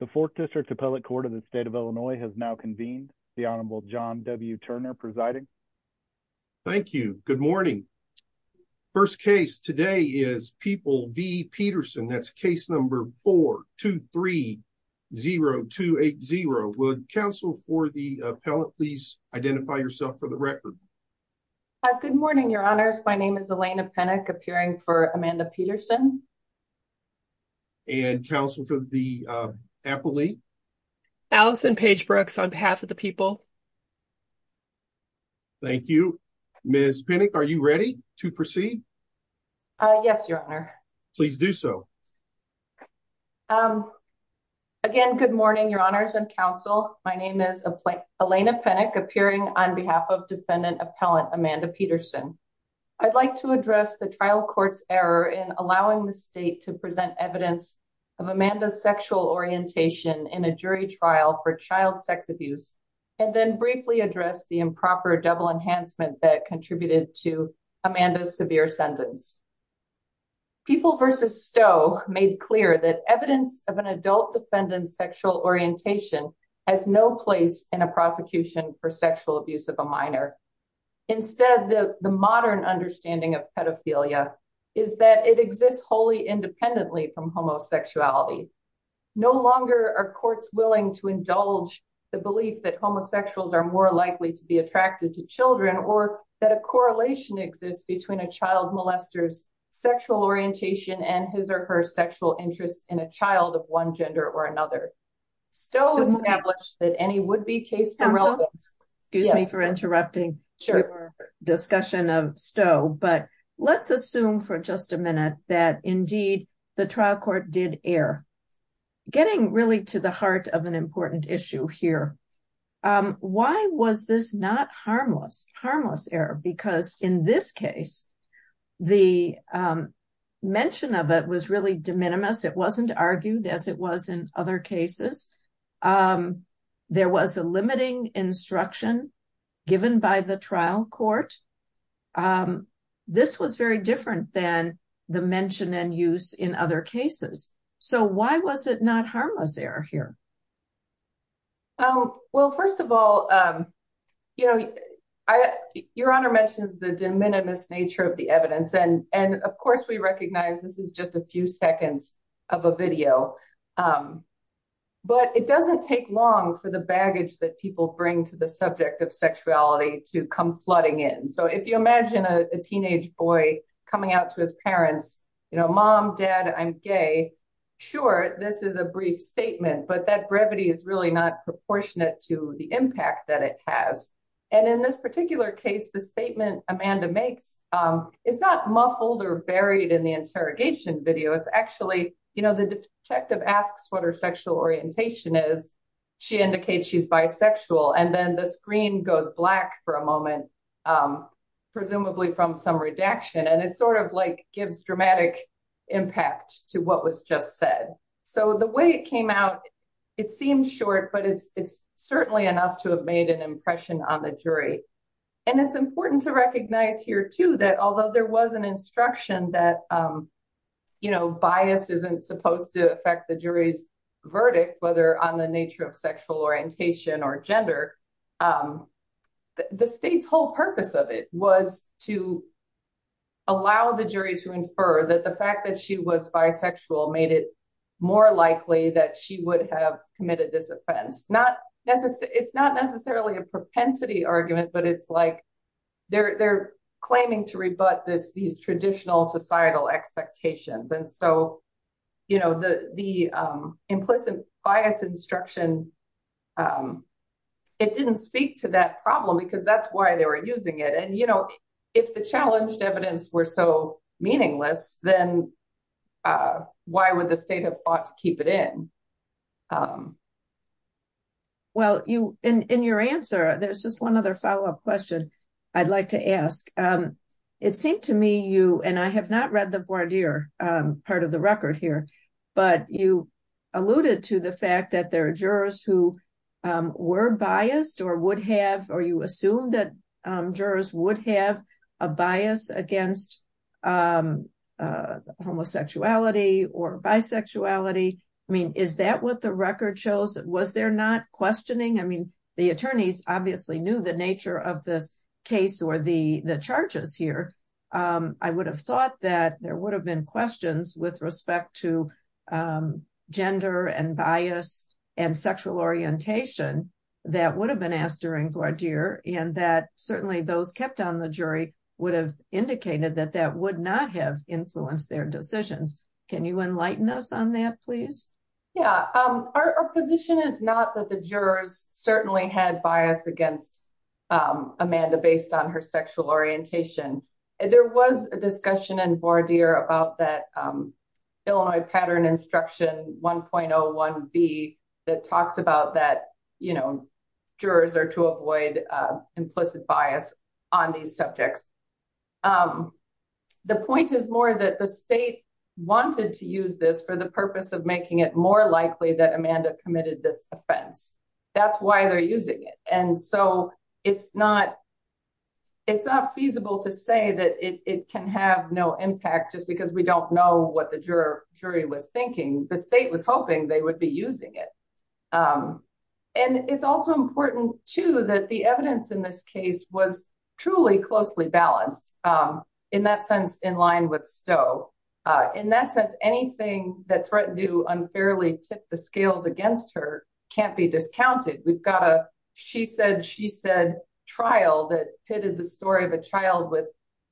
The Fourth District Appellate Court of the State of Illinois has now convened. The Honorable John W. Turner presiding. Thank you. Good morning. First case today is People v. Petersen. That's case number 4-2-3-0-2-8-0. Would counsel for the appellate please identify yourself for the record? Good morning, your honors. My name is Elena Penick, appearing for Amanda Petersen. And counsel for the appellate? Allison Page Brooks on behalf of the people. Thank you. Ms. Penick, are you ready to proceed? Yes, your honor. Please do so. Again, good morning, your honors and counsel. My name is Elena Penick, appearing on behalf of defendant appellant Amanda Petersen. I'd like to address the trial court's error in allowing the state to present evidence of Amanda's sexual orientation in a jury trial for child sex abuse, and then briefly address the improper double enhancement that contributed to Amanda's severe sentence. People v. Stowe made clear that evidence of an adult defendant's sexual orientation has no place in a prosecution for sexual abuse of a minor. Instead, the modern understanding of pedophilia is that it exists wholly independently from homosexuality. No longer are courts willing to indulge the belief that homosexuals are more likely to be attracted to children or that a correlation exists between a child molester's sexual orientation and his or her Stowe established that any would be case. Excuse me for interrupting. Sure. Discussion of Stowe, but let's assume for just a minute that indeed, the trial court did air, getting really to the heart of an important issue here. Why was this not harmless, harmless error? Because in this case, the mention of it was really de minimis. It wasn't argued as it was in other cases. There was a limiting instruction given by the trial court. This was very different than the mention and use in other cases. So why was it not harmless error here? Well, first of all, you know, your honor mentions the de minimis nature of the evidence. And of course, we recognize this is just a few seconds of a video. But it doesn't take long for the baggage that people bring to the subject of sexuality to come flooding in. So if you imagine a teenage boy coming out to his parents, you know, mom, dad, I'm gay. Sure, this is a brief statement, but that brevity is really not proportionate to the impact that it has. And in this particular case, the statement Amanda makes is not muffled or buried in the interrogation video. It's actually, you know, the detective asks what her sexual orientation is. She indicates she's bisexual. And then the screen goes black for a moment, presumably from some redaction. And it sort of gives dramatic impact to what was just said. So the way it came out, it seems short, but it's certainly enough to have made an impression on the jury. And it's important to recognize here, too, that although there was an instruction that, you know, bias isn't supposed to affect the jury's verdict, whether on the nature of sexual orientation or gender, the state's whole purpose of it was to allow the jury to infer that the fact that she was bisexual made it more likely that she would have committed this offense. It's not necessarily a propensity argument, but it's like they're claiming to rebut these traditional societal expectations. And so, you know, the if the challenged evidence were so meaningless, then why would the state have fought to keep it in? Well, in your answer, there's just one other follow-up question I'd like to ask. It seemed to me you and I have not read the voir dire part of the record here, but you alluded to the fact that there are jurors who were biased or would have or you assume that jurors would have a bias against homosexuality or bisexuality. I mean, is that what the record shows? Was there not questioning? I mean, the attorneys obviously knew the nature of this case or the charges here. I would have thought that there would have been questions with respect to gender and bias and sexual orientation that would have been asked during voir dire and that certainly those kept on the jury would have indicated that that would not have influenced their decisions. Can you enlighten us on that, please? Yeah, our position is not that the jurors certainly had bias against Amanda based on her sexual orientation. There was a discussion in voir dire about that Illinois pattern instruction 1.01b that talks about that, you know, jurors are to avoid implicit bias on these subjects. The point is more that the state wanted to use this for the purpose of making it more likely that Amanda committed this offense. That's why they're using it. And so it's not feasible to say that it can have no impact just because we don't know what the jury was thinking. The state was hoping they would be using it. And it's also important too that the evidence in this case was truly closely balanced in that sense in line with Stowe. In that sense, anything that threatened to unfairly tip the scales against her can't be discounted. We've got a she said, she said trial that pitted the story of a child with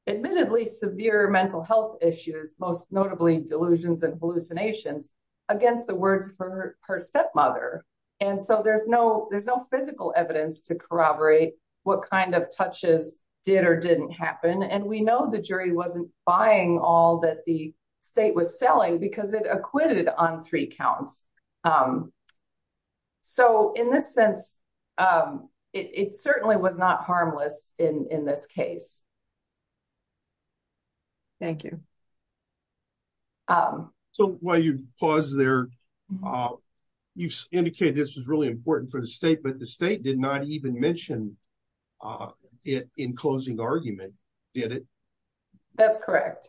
admittedly severe mental health issues, most notably delusions and hallucinations against the words of her stepmother. And so there's no physical evidence to corroborate what kind of touches did or didn't happen. And we know the jury wasn't buying all that the state was selling because it acquitted on three counts. So in this sense, it certainly was not harmless in this case. Thank you. So while you pause there, you've indicated this was really important for the state, the state did not even mention it in closing argument. Did it? That's correct.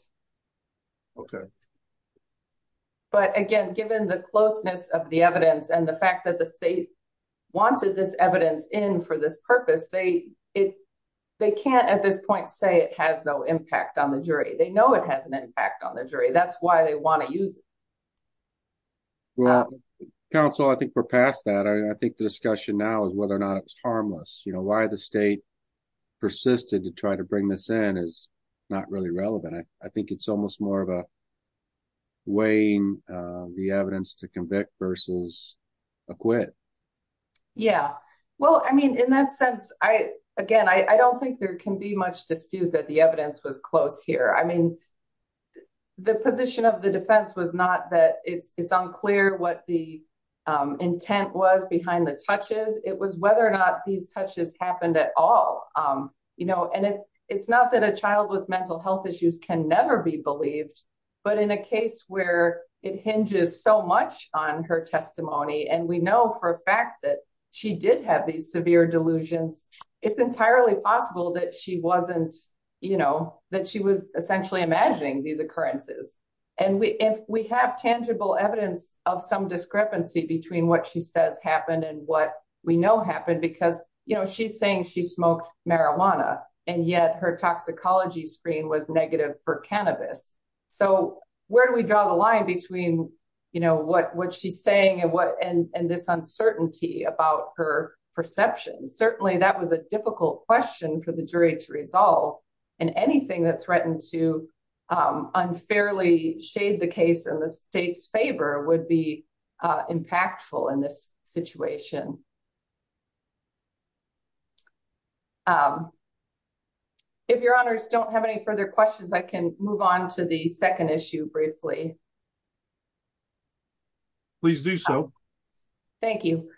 Okay. But again, given the closeness of the evidence and the fact that the state wanted this evidence in for this purpose, they, it, they can't at this point say it has no impact on the jury. They know it has an impact on the jury. That's why they want to use. Well, counsel, I think we're past that. I think the discussion now is whether or not it was harmless, you know, why the state persisted to try to bring this in is not really relevant. I, I think it's almost more of a weighing the evidence to convict versus acquit. Yeah. Well, I mean, in that sense, I, again, I don't think there can be much dispute that evidence was close here. I mean, the position of the defense was not that it's unclear what the intent was behind the touches. It was whether or not these touches happened at all. You know, and it, it's not that a child with mental health issues can never be believed, but in a case where it hinges so much on her testimony, and we know for a fact that she did have these severe delusions, it's entirely possible that she wasn't, you know, that she was essentially imagining these occurrences. And we, if we have tangible evidence of some discrepancy between what she says happened and what we know happened, because, you know, she's saying she smoked marijuana and yet her toxicology screen was negative for cannabis. So where do we perception? Certainly that was a difficult question for the jury to resolve and anything that threatened to unfairly shade the case in the state's favor would be impactful in this situation. If your honors don't have any further questions, I can move on to the second issue briefly. Please do so. Thank you.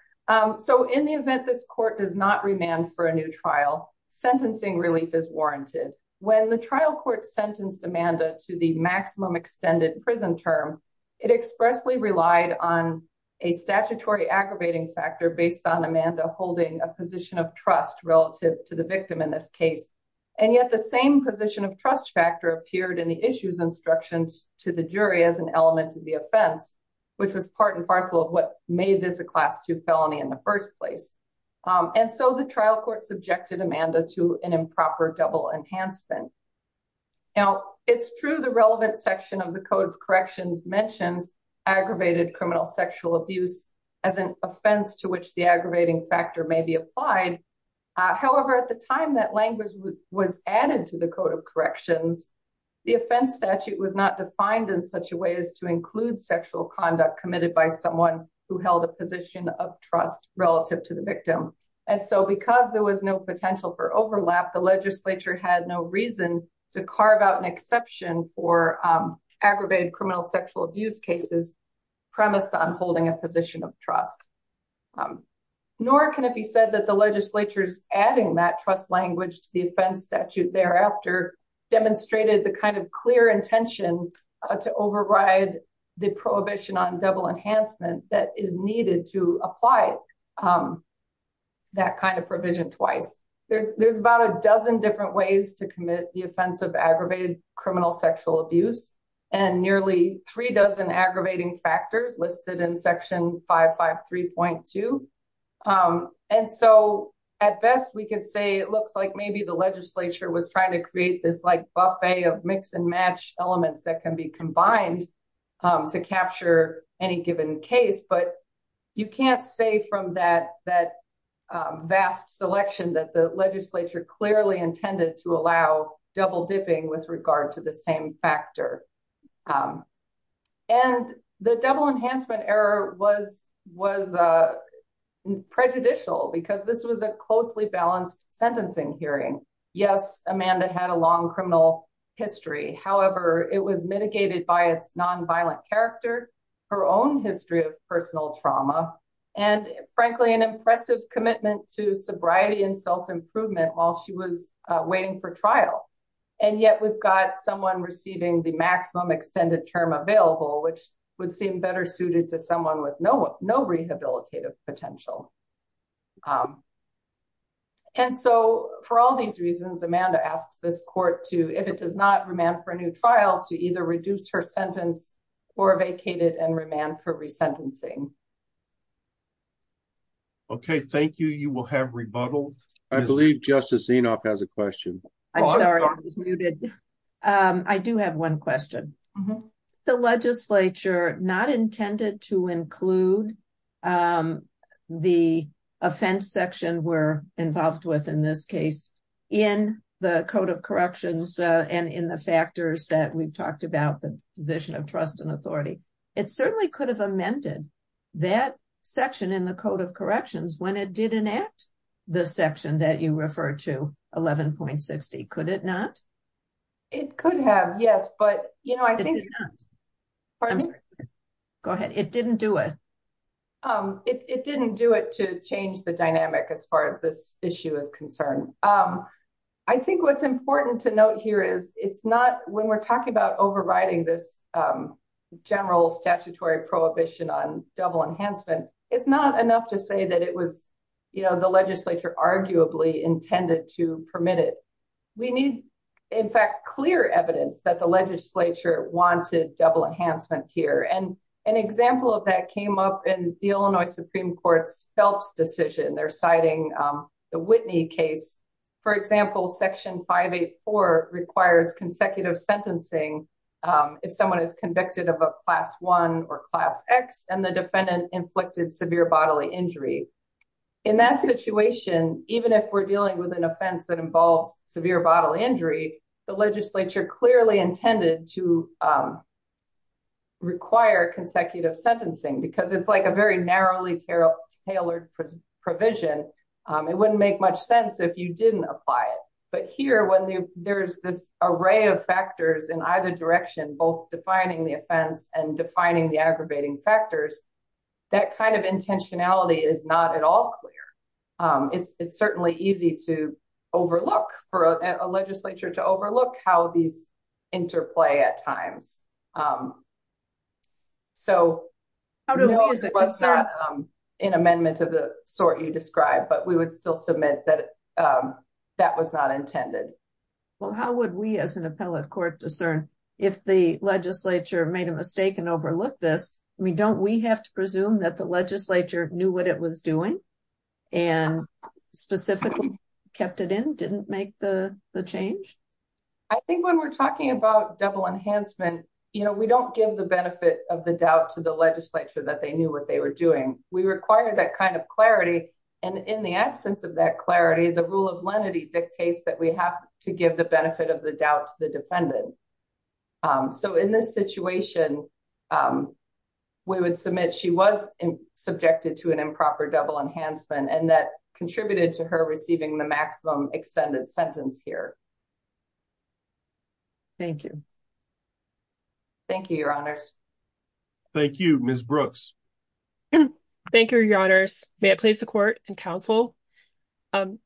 So in the event, this court does not remand for a new trial, sentencing relief is warranted. When the trial court sentenced Amanda to the maximum extended prison term, it expressly relied on a statutory aggravating factor based on Amanda holding a position of trust relative to the victim in this case. And yet the same position of trust factor appeared in the issues instructions to the jury as an element of the offense, which was part and parcel of what made this a class two felony in the first place. And so the trial court subjected Amanda to an improper double enhancement. Now it's true the relevant section of the code of corrections mentions aggravated criminal sexual abuse as an offense to which the aggravating factor may be applied. However, at the time that language was added to the code of corrections, the offense statute was not defined in such a way as to include sexual conduct committed by someone who held a position of trust relative to the victim. And so because there was no potential for overlap, the legislature had no reason to carve out an exception for aggravated criminal sexual abuse cases premised on holding a position of trust. Um, nor can it be said that the legislature's adding that trust language to the offense statute thereafter demonstrated the kind of clear intention to override the prohibition on double enhancement that is needed to apply that kind of provision twice. There's about a dozen different ways to commit the offense of aggravated criminal sexual abuse, and nearly three dozen aggravating factors listed in section 553.2. Um, and so at best we can say it looks like maybe the legislature was trying to create this like buffet of mix and match elements that can be combined to capture any given case. But you can't say from that, that vast selection that the legislature clearly intended to allow double dipping with regard to the same factor. Um, and the double enhancement error was, was, uh, prejudicial because this was a closely balanced sentencing hearing. Yes, Amanda had a long criminal history. However, it was mitigated by its nonviolent character, her own history of personal trauma, and frankly, an impressive commitment to sobriety and self improvement while she was waiting for trial. And yet we've got someone receiving the maximum extended term available, which would seem better suited to someone with no, no rehabilitative potential. Um, and so for all these reasons, Amanda asks this court to, if it does not remand for a new trial to either reduce her sentence or vacated and remand for resentencing. Thank you. Okay, thank you. You will have rebuttals. I believe Justice Zinoff has a question. I'm sorry, I was muted. Um, I do have one question. The legislature not intended to include, um, the offense section we're involved with in this case in the code of corrections, uh, and in the factors that we've talked about the position of trust and authority. It certainly could have amended that section in the code of corrections when it did enact the section that you refer to 11.60. Could it not? It could have, yes, but you know, I think, go ahead. It didn't do it. Um, it, it didn't do it to change the dynamic as far as this issue is concerned. Um, I think what's important to note here is it's not when we're talking about overriding this, um, general statutory prohibition on double enhancement, it's not enough to say that it was, you know, the legislature arguably intended to permit it. We need, in fact, clear evidence that the legislature wanted double enhancement here. And an example of that came up in the Illinois Supreme Court's Phelps decision. They're citing, um, the Whitney case. For example, section 584 requires consecutive sentencing, um, if someone is convicted of a class one or class X and the defendant inflicted severe bodily injury. In that situation, even if we're dealing with an offense that involves severe bodily injury, the legislature clearly intended to, um, require consecutive sentencing because it's like a very narrowly tailored provision. Um, it wouldn't make much if you didn't apply it. But here, when there's this array of factors in either direction, both defining the offense and defining the aggravating factors, that kind of intentionality is not at all clear. Um, it's, it's certainly easy to overlook for a legislature to overlook how these interplay at times. Um, so no, it's not an amendment of the sort you described, but we would still submit that, um, that was not intended. Well, how would we as an appellate court discern if the legislature made a mistake and overlooked this? I mean, don't we have to presume that the legislature knew what it was doing and specifically kept it in, didn't make the, the change? I think when we're talking about double enhancement, you know, we don't give the benefit of the doubt to the legislature that they knew what they were doing. We require that kind of clarity. And in the absence of that clarity, the rule of lenity dictates that we have to give the benefit of the doubt to the defendant. Um, so in this situation, um, we would submit she was subjected to an improper double enhancement and that contributed to her receiving the maximum extended sentence here. Thank you. Thank you, your honors. Thank you, Ms. Brooks. Thank you, your honors. May I please the court and counsel, um,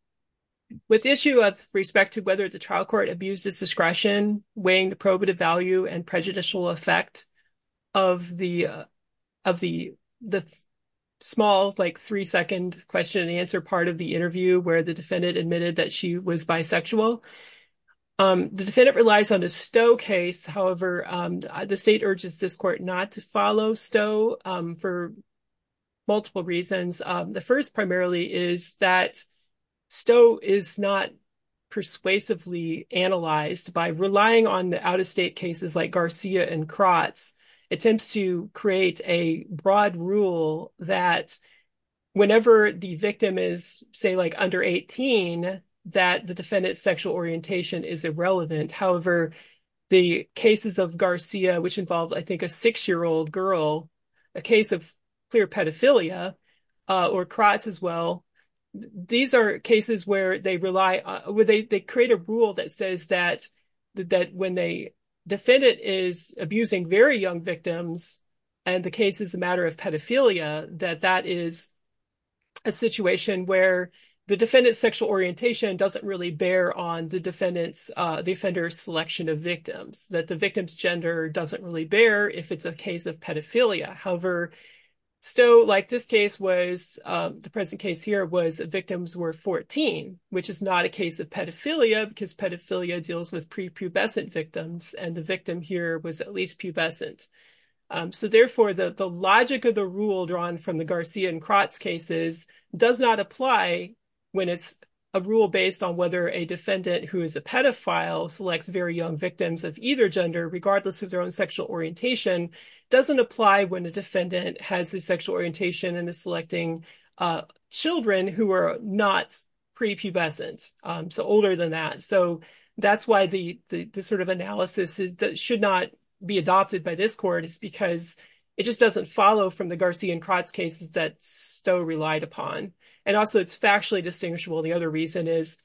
with issue of respect to whether the trial court abused its discretion, weighing the probative value and prejudicial effect of the, uh, of the, the small, like three second question and answer part of the interview where the defendant admitted that she was bisexual. Um, the defendant relies on a Stowe case. However, the state urges this court not to follow Stowe, um, for multiple reasons. Um, the first primarily is that Stowe is not persuasively analyzed by relying on the out-of-state cases like Garcia and Kratz attempts to create a broad rule that whenever the victim is say, like under 18, that the defendant's sexual orientation is irrelevant. However, the cases of Garcia, which involved, I think, a six-year-old girl, a case of clear pedophilia, uh, or Kratz as well, these are cases where they rely on, where they, they create a rule that says that, that when they defendant is abusing very young victims and the case is a matter of pedophilia, that that is a situation where the defendant's sexual orientation doesn't really bear on the defendant's, uh, the offender's selection of victims, that the victim's gender doesn't really bear if it's a case of pedophilia. However, Stowe, like this case was, um, the present case here was victims were 14, which is not a case of pedophilia because pedophilia deals with prepubescent victims and the victim here was at least pubescent. Um, so therefore the, the logic of the rule drawn from the Garcia and Kratz cases does not apply when it's a rule based on whether a defendant who is a pedophile selects very young victims of either gender, regardless of their own sexual orientation, doesn't apply when the defendant has the sexual orientation and is selecting, uh, children who are not prepubescent, um, so older than that. So that's why the, the, the rule can be adopted by this court because it just doesn't follow from the Garcia and Kratz cases that Stowe relied upon. And also it's factually distinguishable. The other reason is,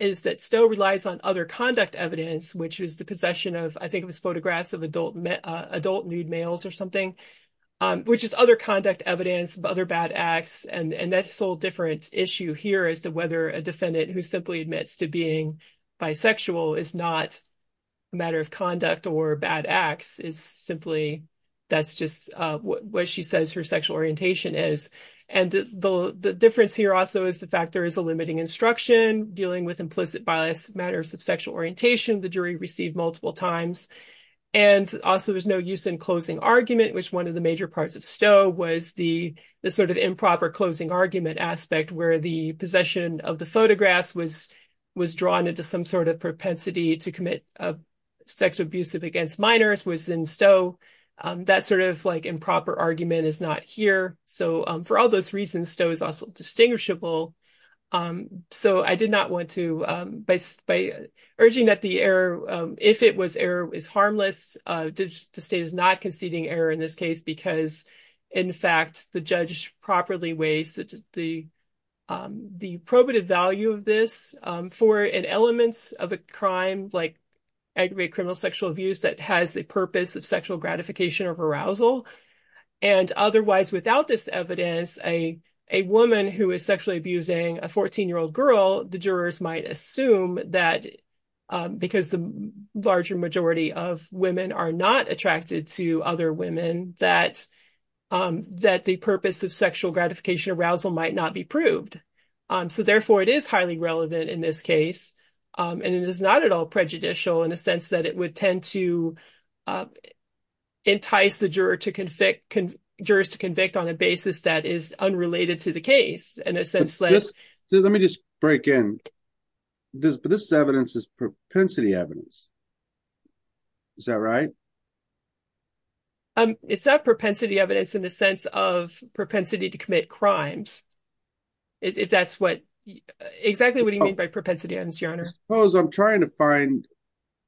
is that Stowe relies on other conduct evidence, which is the possession of, I think it was photographs of adult adult nude males or something, um, which is other conduct evidence, other bad acts. And, and that's a whole different issue here as to whether a defendant who simply admits to being bisexual is not a matter of conduct or bad acts is simply, that's just what she says her sexual orientation is. And the, the difference here also is the fact there is a limiting instruction dealing with implicit violence matters of sexual orientation. The jury received multiple times and also there's no use in closing argument, which one of the major parts of Stowe was the, the sort of improper closing argument aspect where the possession of the photographs was, was drawn into some sort of propensity to commit sexual abuse against minors was in Stowe. That sort of like improper argument is not here. So for all those reasons, Stowe is also distinguishable. So I did not want to, by urging that the error, if it was error is harmless, the state is not conceding error in this case, because in fact, the judge properly weighs that the, the probative value of this for an elements of a crime, like aggravated criminal sexual abuse that has the purpose of sexual gratification of arousal. And otherwise, without this evidence, a, a woman who is sexually abusing a 14-year-old girl, the jurors might assume that because the larger majority of women are not attracted to other women, that, that the purpose of sexual gratification arousal might not be proved. So therefore it is highly relevant in this case. And it is not at all prejudicial in a sense that it would tend to entice the juror to convict, jurors to convict on a basis that is unrelated to the case, in a sense. So let me just break in. This, this evidence is propensity evidence. Is that right? Um, it's not propensity evidence in the sense of propensity to commit crimes. If that's what, exactly what do you mean by propensity evidence, your honor? Suppose I'm trying to find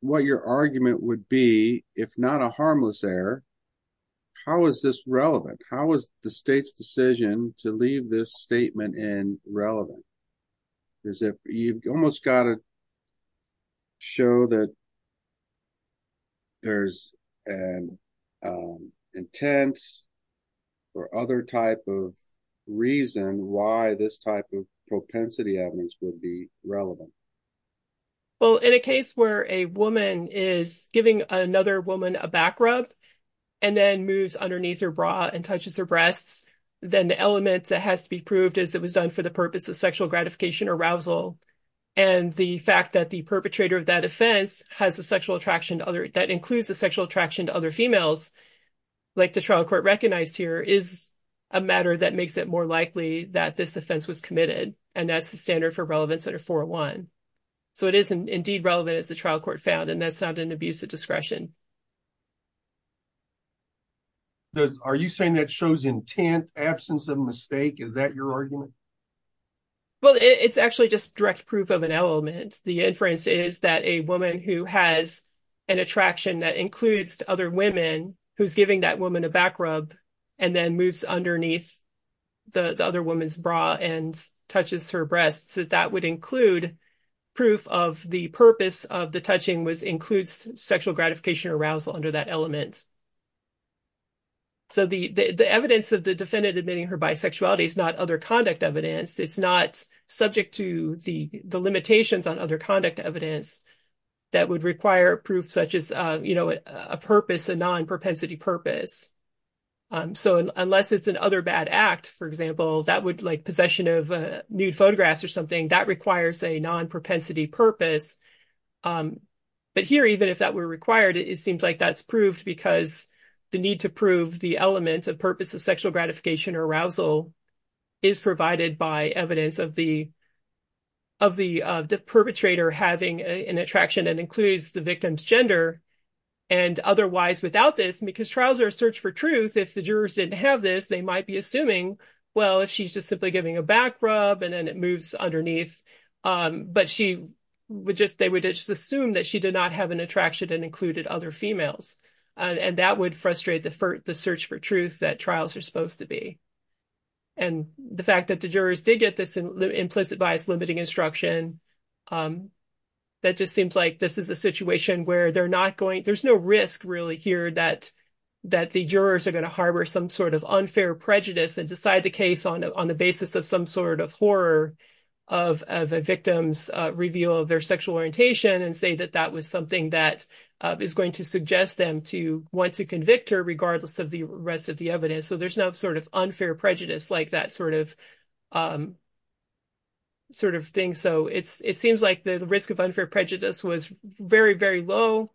what your argument would be, if not a harmless error, how is this relevant? How is the state's decision to leave this statement in relevant? Is it, you've almost got to show that there's an intent or other type of reason why this type of propensity evidence would be relevant? Well, in a case where a woman is giving another woman a back rub and then moves underneath her bra and touches her breasts, then the element that has to be the fact that the perpetrator of that offense has a sexual attraction to other, that includes a sexual attraction to other females, like the trial court recognized here, is a matter that makes it more likely that this offense was committed. And that's the standard for relevance under 401. So it is indeed relevant as the trial court found, and that's not an abuse of discretion. Are you saying that shows intent, absence of mistake? Is that your argument? Well, it's actually just direct proof of an element. The inference is that a woman who has an attraction that includes other women, who's giving that woman a back rub and then moves underneath the other woman's bra and touches her breasts, that that would include proof of the purpose of the touching was includes sexual gratification arousal under that element. So the evidence of the defendant admitting her bisexuality is not other conduct, it's not subject to the limitations on other conduct evidence that would require proof, such as a purpose, a non-propensity purpose. So unless it's an other bad act, for example, that would like possession of nude photographs or something that requires a non-propensity purpose. But here, even if that were required, it seems like that's proved because the need to prove the element of purpose of sexual gratification arousal is provided by evidence of the perpetrator having an attraction that includes the victim's gender. And otherwise, without this, because trials are a search for truth, if the jurors didn't have this, they might be assuming, well, she's just simply giving a back rub and then it moves underneath. But they would just assume that she did not have an attraction and included other females. And that would frustrate the search for truth that trials are supposed to be. And the fact that the jurors did get this implicit bias limiting instruction, that just seems like this is a situation where they're not going, there's no risk really here that the jurors are going to harbor some sort of unfair prejudice and decide the case on the basis of some sort of horror of a victim's reveal of their sexual orientation and say that that was something that is going to suggest them want to convict her regardless of the rest of the evidence. So there's no sort of unfair prejudice like that sort of thing. So it seems like the risk of unfair prejudice was very, very low.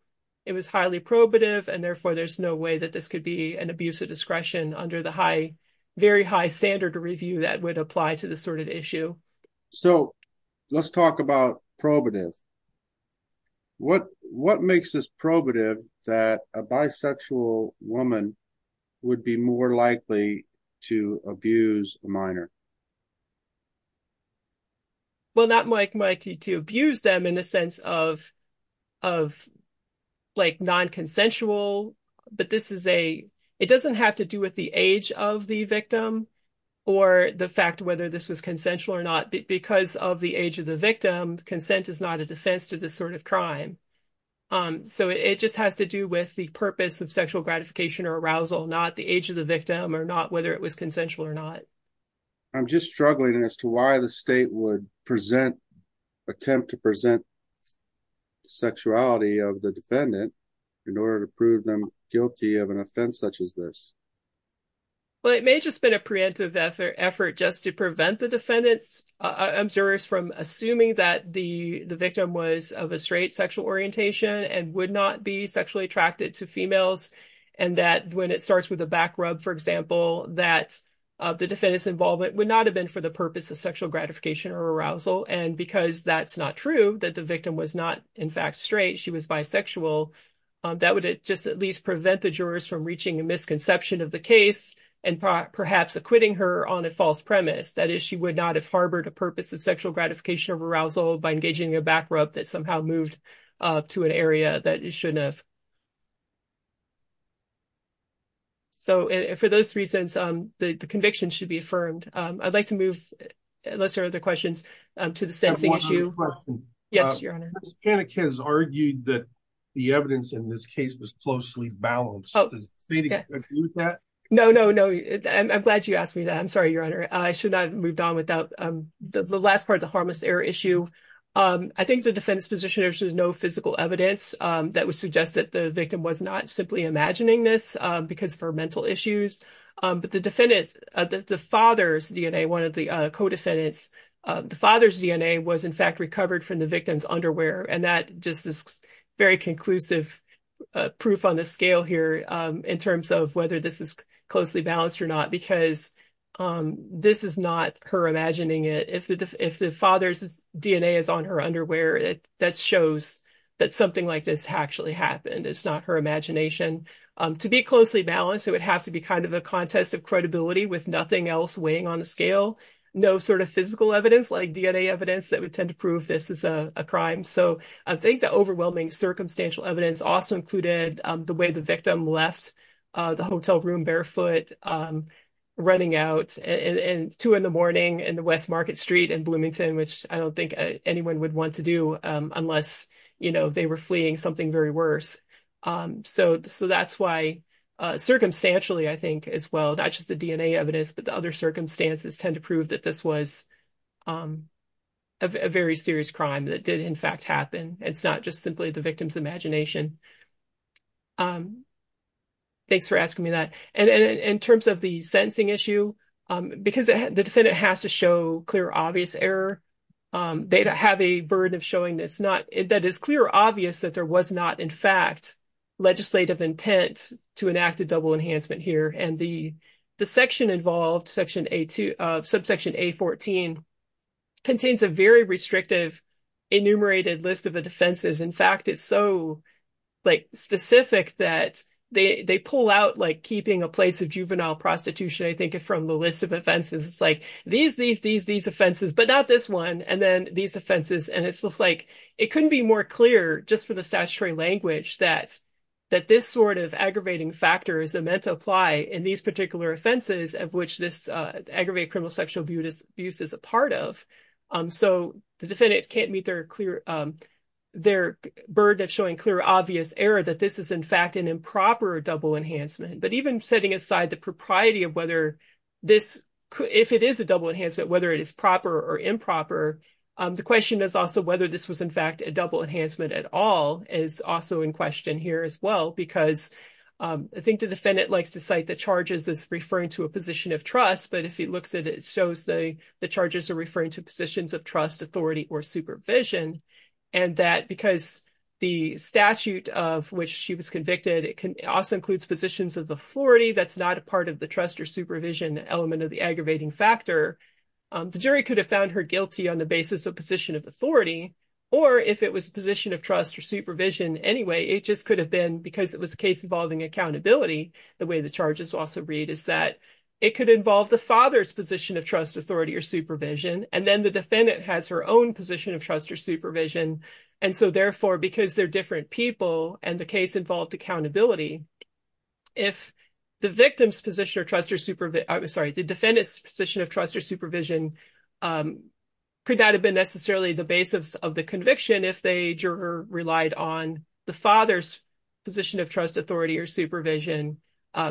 It was highly probative and therefore there's no way that this could be an abuse of discretion under the very high standard of review that would apply to this sort of issue. So let's talk about probative. What makes this probative that a bisexual woman would be more likely to abuse a minor? Well, not to abuse them in the sense of non-consensual, but this is a, it doesn't have to do with the age of the victim or the fact whether this was consensual or not. Because of the age of the victim, consent is not a defense to this sort of crime. So it just has to do with the purpose of sexual gratification or arousal, not the age of the victim or not whether it was consensual or not. I'm just struggling as to why the state would present, attempt to present the sexuality of the defendant in order to prove them guilty of an offense such as this. Well, it may have just been a preemptive effort just to prevent the defendant's observers from assuming that the victim was of a straight sexual orientation and would not be sexually attracted to females. And that when it starts with a back rub, for example, that the defendant's involvement would not have been for the purpose of sexual gratification or arousal. And because that's not true, that the victim was not in fact straight, she was bisexual, that would just at least prevent the jurors from reaching a misconception of the case and perhaps acquitting her on a false premise. That is, she would not have harbored a purpose of sexual gratification or arousal by engaging in a back rub that somehow moved to an area that it shouldn't have. So for those reasons, the conviction should be affirmed. I'd like to move, unless there are other questions, to the stancing issue. I have one other question. Yes, Your Honor. Justice Panik has argued that the evidence in this case was closely balanced. Does the state agree with that? No, no, no. I'm glad you asked me that. I'm sorry, Your Honor. I should not have moved on without the last part of the harmless error issue. I think the defendant's position is there's no physical evidence that would suggest that the victim was not simply imagining this because of her mental issues. But the defendant's, the father's DNA, one of the co-defendants, the father's DNA was in fact recovered from the victim's underwear. And that just is very conclusive proof on the scale here in terms of whether this is closely balanced or not, because this is not her imagining it. If the father's DNA is on her underwear, that shows that something like this actually happened. It's not her imagination. To be closely balanced, it would have to be kind of a contest of credibility with nothing else weighing on the scale, no sort of physical evidence like DNA evidence that would tend to prove this is a crime. So I think the overwhelming circumstantial evidence also included the way the victim left the hotel room barefoot, running out at two in the morning in the West Market Street in Bloomington, which I don't think anyone would want to do unless they were fleeing something very worse. So that's why circumstantially, I think as well, not just the DNA evidence, but the other circumstances tend to prove that this was a very serious crime that did in fact happen. It's not just simply the victim's imagination. Thanks for asking me that. And in terms of the sentencing issue, because the defendant has to show clear, obvious error, they have a burden of showing that it's not that is clear, obvious that there was not in fact legislative intent to enact a double enhancement here. And the section involved, section A2 of subsection A14, contains a very restrictive enumerated list of the defenses. In a place of juvenile prostitution, I think from the list of offenses, it's like these, these, these, these offenses, but not this one. And then these offenses. And it's just like, it couldn't be more clear just for the statutory language that this sort of aggravating factor is meant to apply in these particular offenses of which this aggravated criminal sexual abuse is a part of. So the defendant can't meet their burden of showing clear, obvious error that this is in fact an improper double enhancement. But even setting aside the propriety of whether this, if it is a double enhancement, whether it is proper or improper, the question is also whether this was in fact a double enhancement at all is also in question here as well. Because I think the defendant likes to cite the charges as referring to a position of trust. But if he looks at it, it shows that the charges are referring to positions of trust, authority, or supervision. And that because the statute of which she was convicted, it can also include positions of authority. That's not a part of the trust or supervision element of the aggravating factor. The jury could have found her guilty on the basis of position of authority, or if it was a position of trust or supervision anyway, it just could have been because it was a case involving accountability. The way the charges also read is that it could involve the father's position of trust, authority, or supervision. And then the defendant has her own position of trust or supervision. And so therefore, because they're different people and the case involved accountability, if the victim's position of trust or supervision, sorry, the defendant's position of trust or supervision could not have been necessarily the basis of the conviction if the juror relied on the father's position of trust, authority, or supervision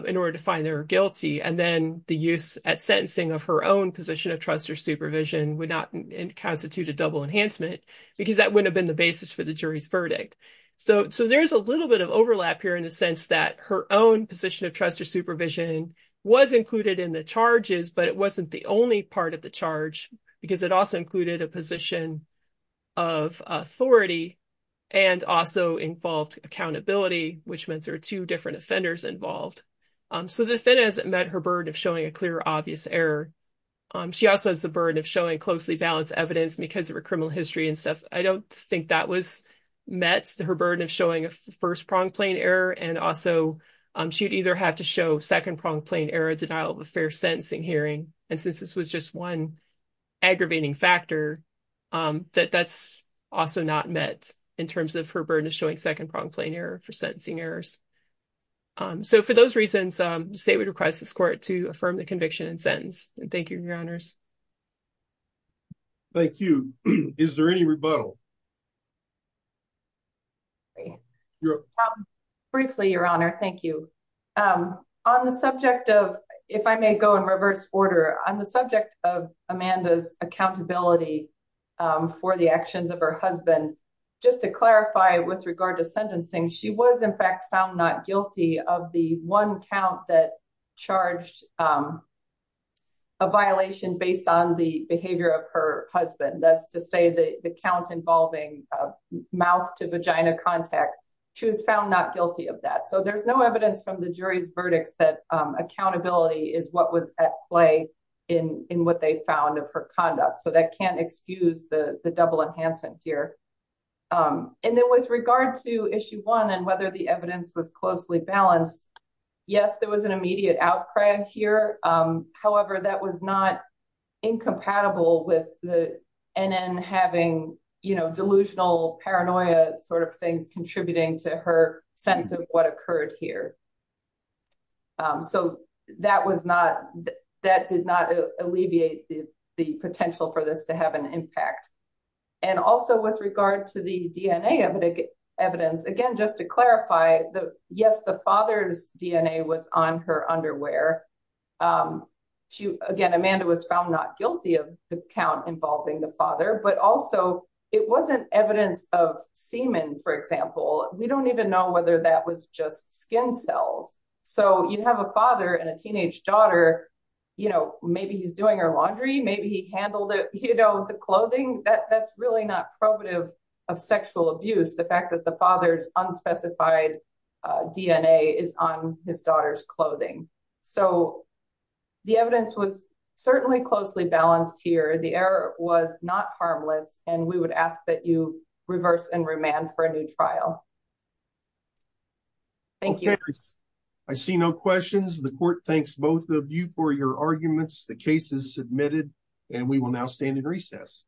in order to find her guilty. And then the use at sentencing of her own position of trust or supervision would not constitute a double enhancement because that wouldn't have been the basis for the jury's verdict. So there's a little bit of overlap here in the sense that her own position of trust or supervision was included in the charges, but it wasn't the only part of the charge because it also included a position of authority and also involved accountability, which meant there were two different offenders involved. So the defendant has met her burden of showing a clear, obvious error. She also has the burden of showing closely balanced evidence because of her criminal history and stuff. I don't think that was met, her burden of showing a first-pronged plain error. And also she'd either have to show second-pronged plain error, denial of affair sentencing hearing. And since this was just one aggravating factor, that that's also not met in terms of her burden of showing second-pronged plain error for sentencing errors. So for those reasons, the state would request this court to affirm the conviction and sentence. Thank you, your honors. Thank you. Is there any rebuttal? Briefly, your honor, thank you. On the subject of, if I may go in reverse order, on the subject of Amanda's accountability for the actions of her husband, just to clarify with regard to sentencing, she was in fact found not guilty of the one count that charged a violation based on the behavior of her husband. That's to say the count involving mouth to vagina contact. She was found not guilty of that. So there's no evidence from the jury's verdicts that accountability is what was at play in what they found of her conduct. So that can't excuse the double enhancement here. And then with regard to issue one and whether the evidence was closely balanced, yes, there was an immediate outcry here. However, that was not incompatible with the NN having, you know, delusional paranoia sort of things contributing to her sense of what occurred here. So that was not, that did not alleviate the potential for this to have an impact. And also with regard to the DNA evidence, again, just to clarify the, yes, the father's DNA was on her underwear. She, again, Amanda was found not guilty of the count involving the father, but also it wasn't evidence of semen, for example, we don't even know whether that was just skin cells. So you'd have a father and a teenage daughter, you know, maybe he's doing her laundry, maybe he handled it, you know, the clothing that that's really not probative of sexual abuse. The fact that the father's unspecified DNA is on his daughter's clothing. So the evidence was certainly closely balanced here. The error was not harmless. And we would ask that you reverse and remand for a new trial. Thank you. I see no questions. The court thanks both of you for your arguments. The case is submitted and we will now stand in recess.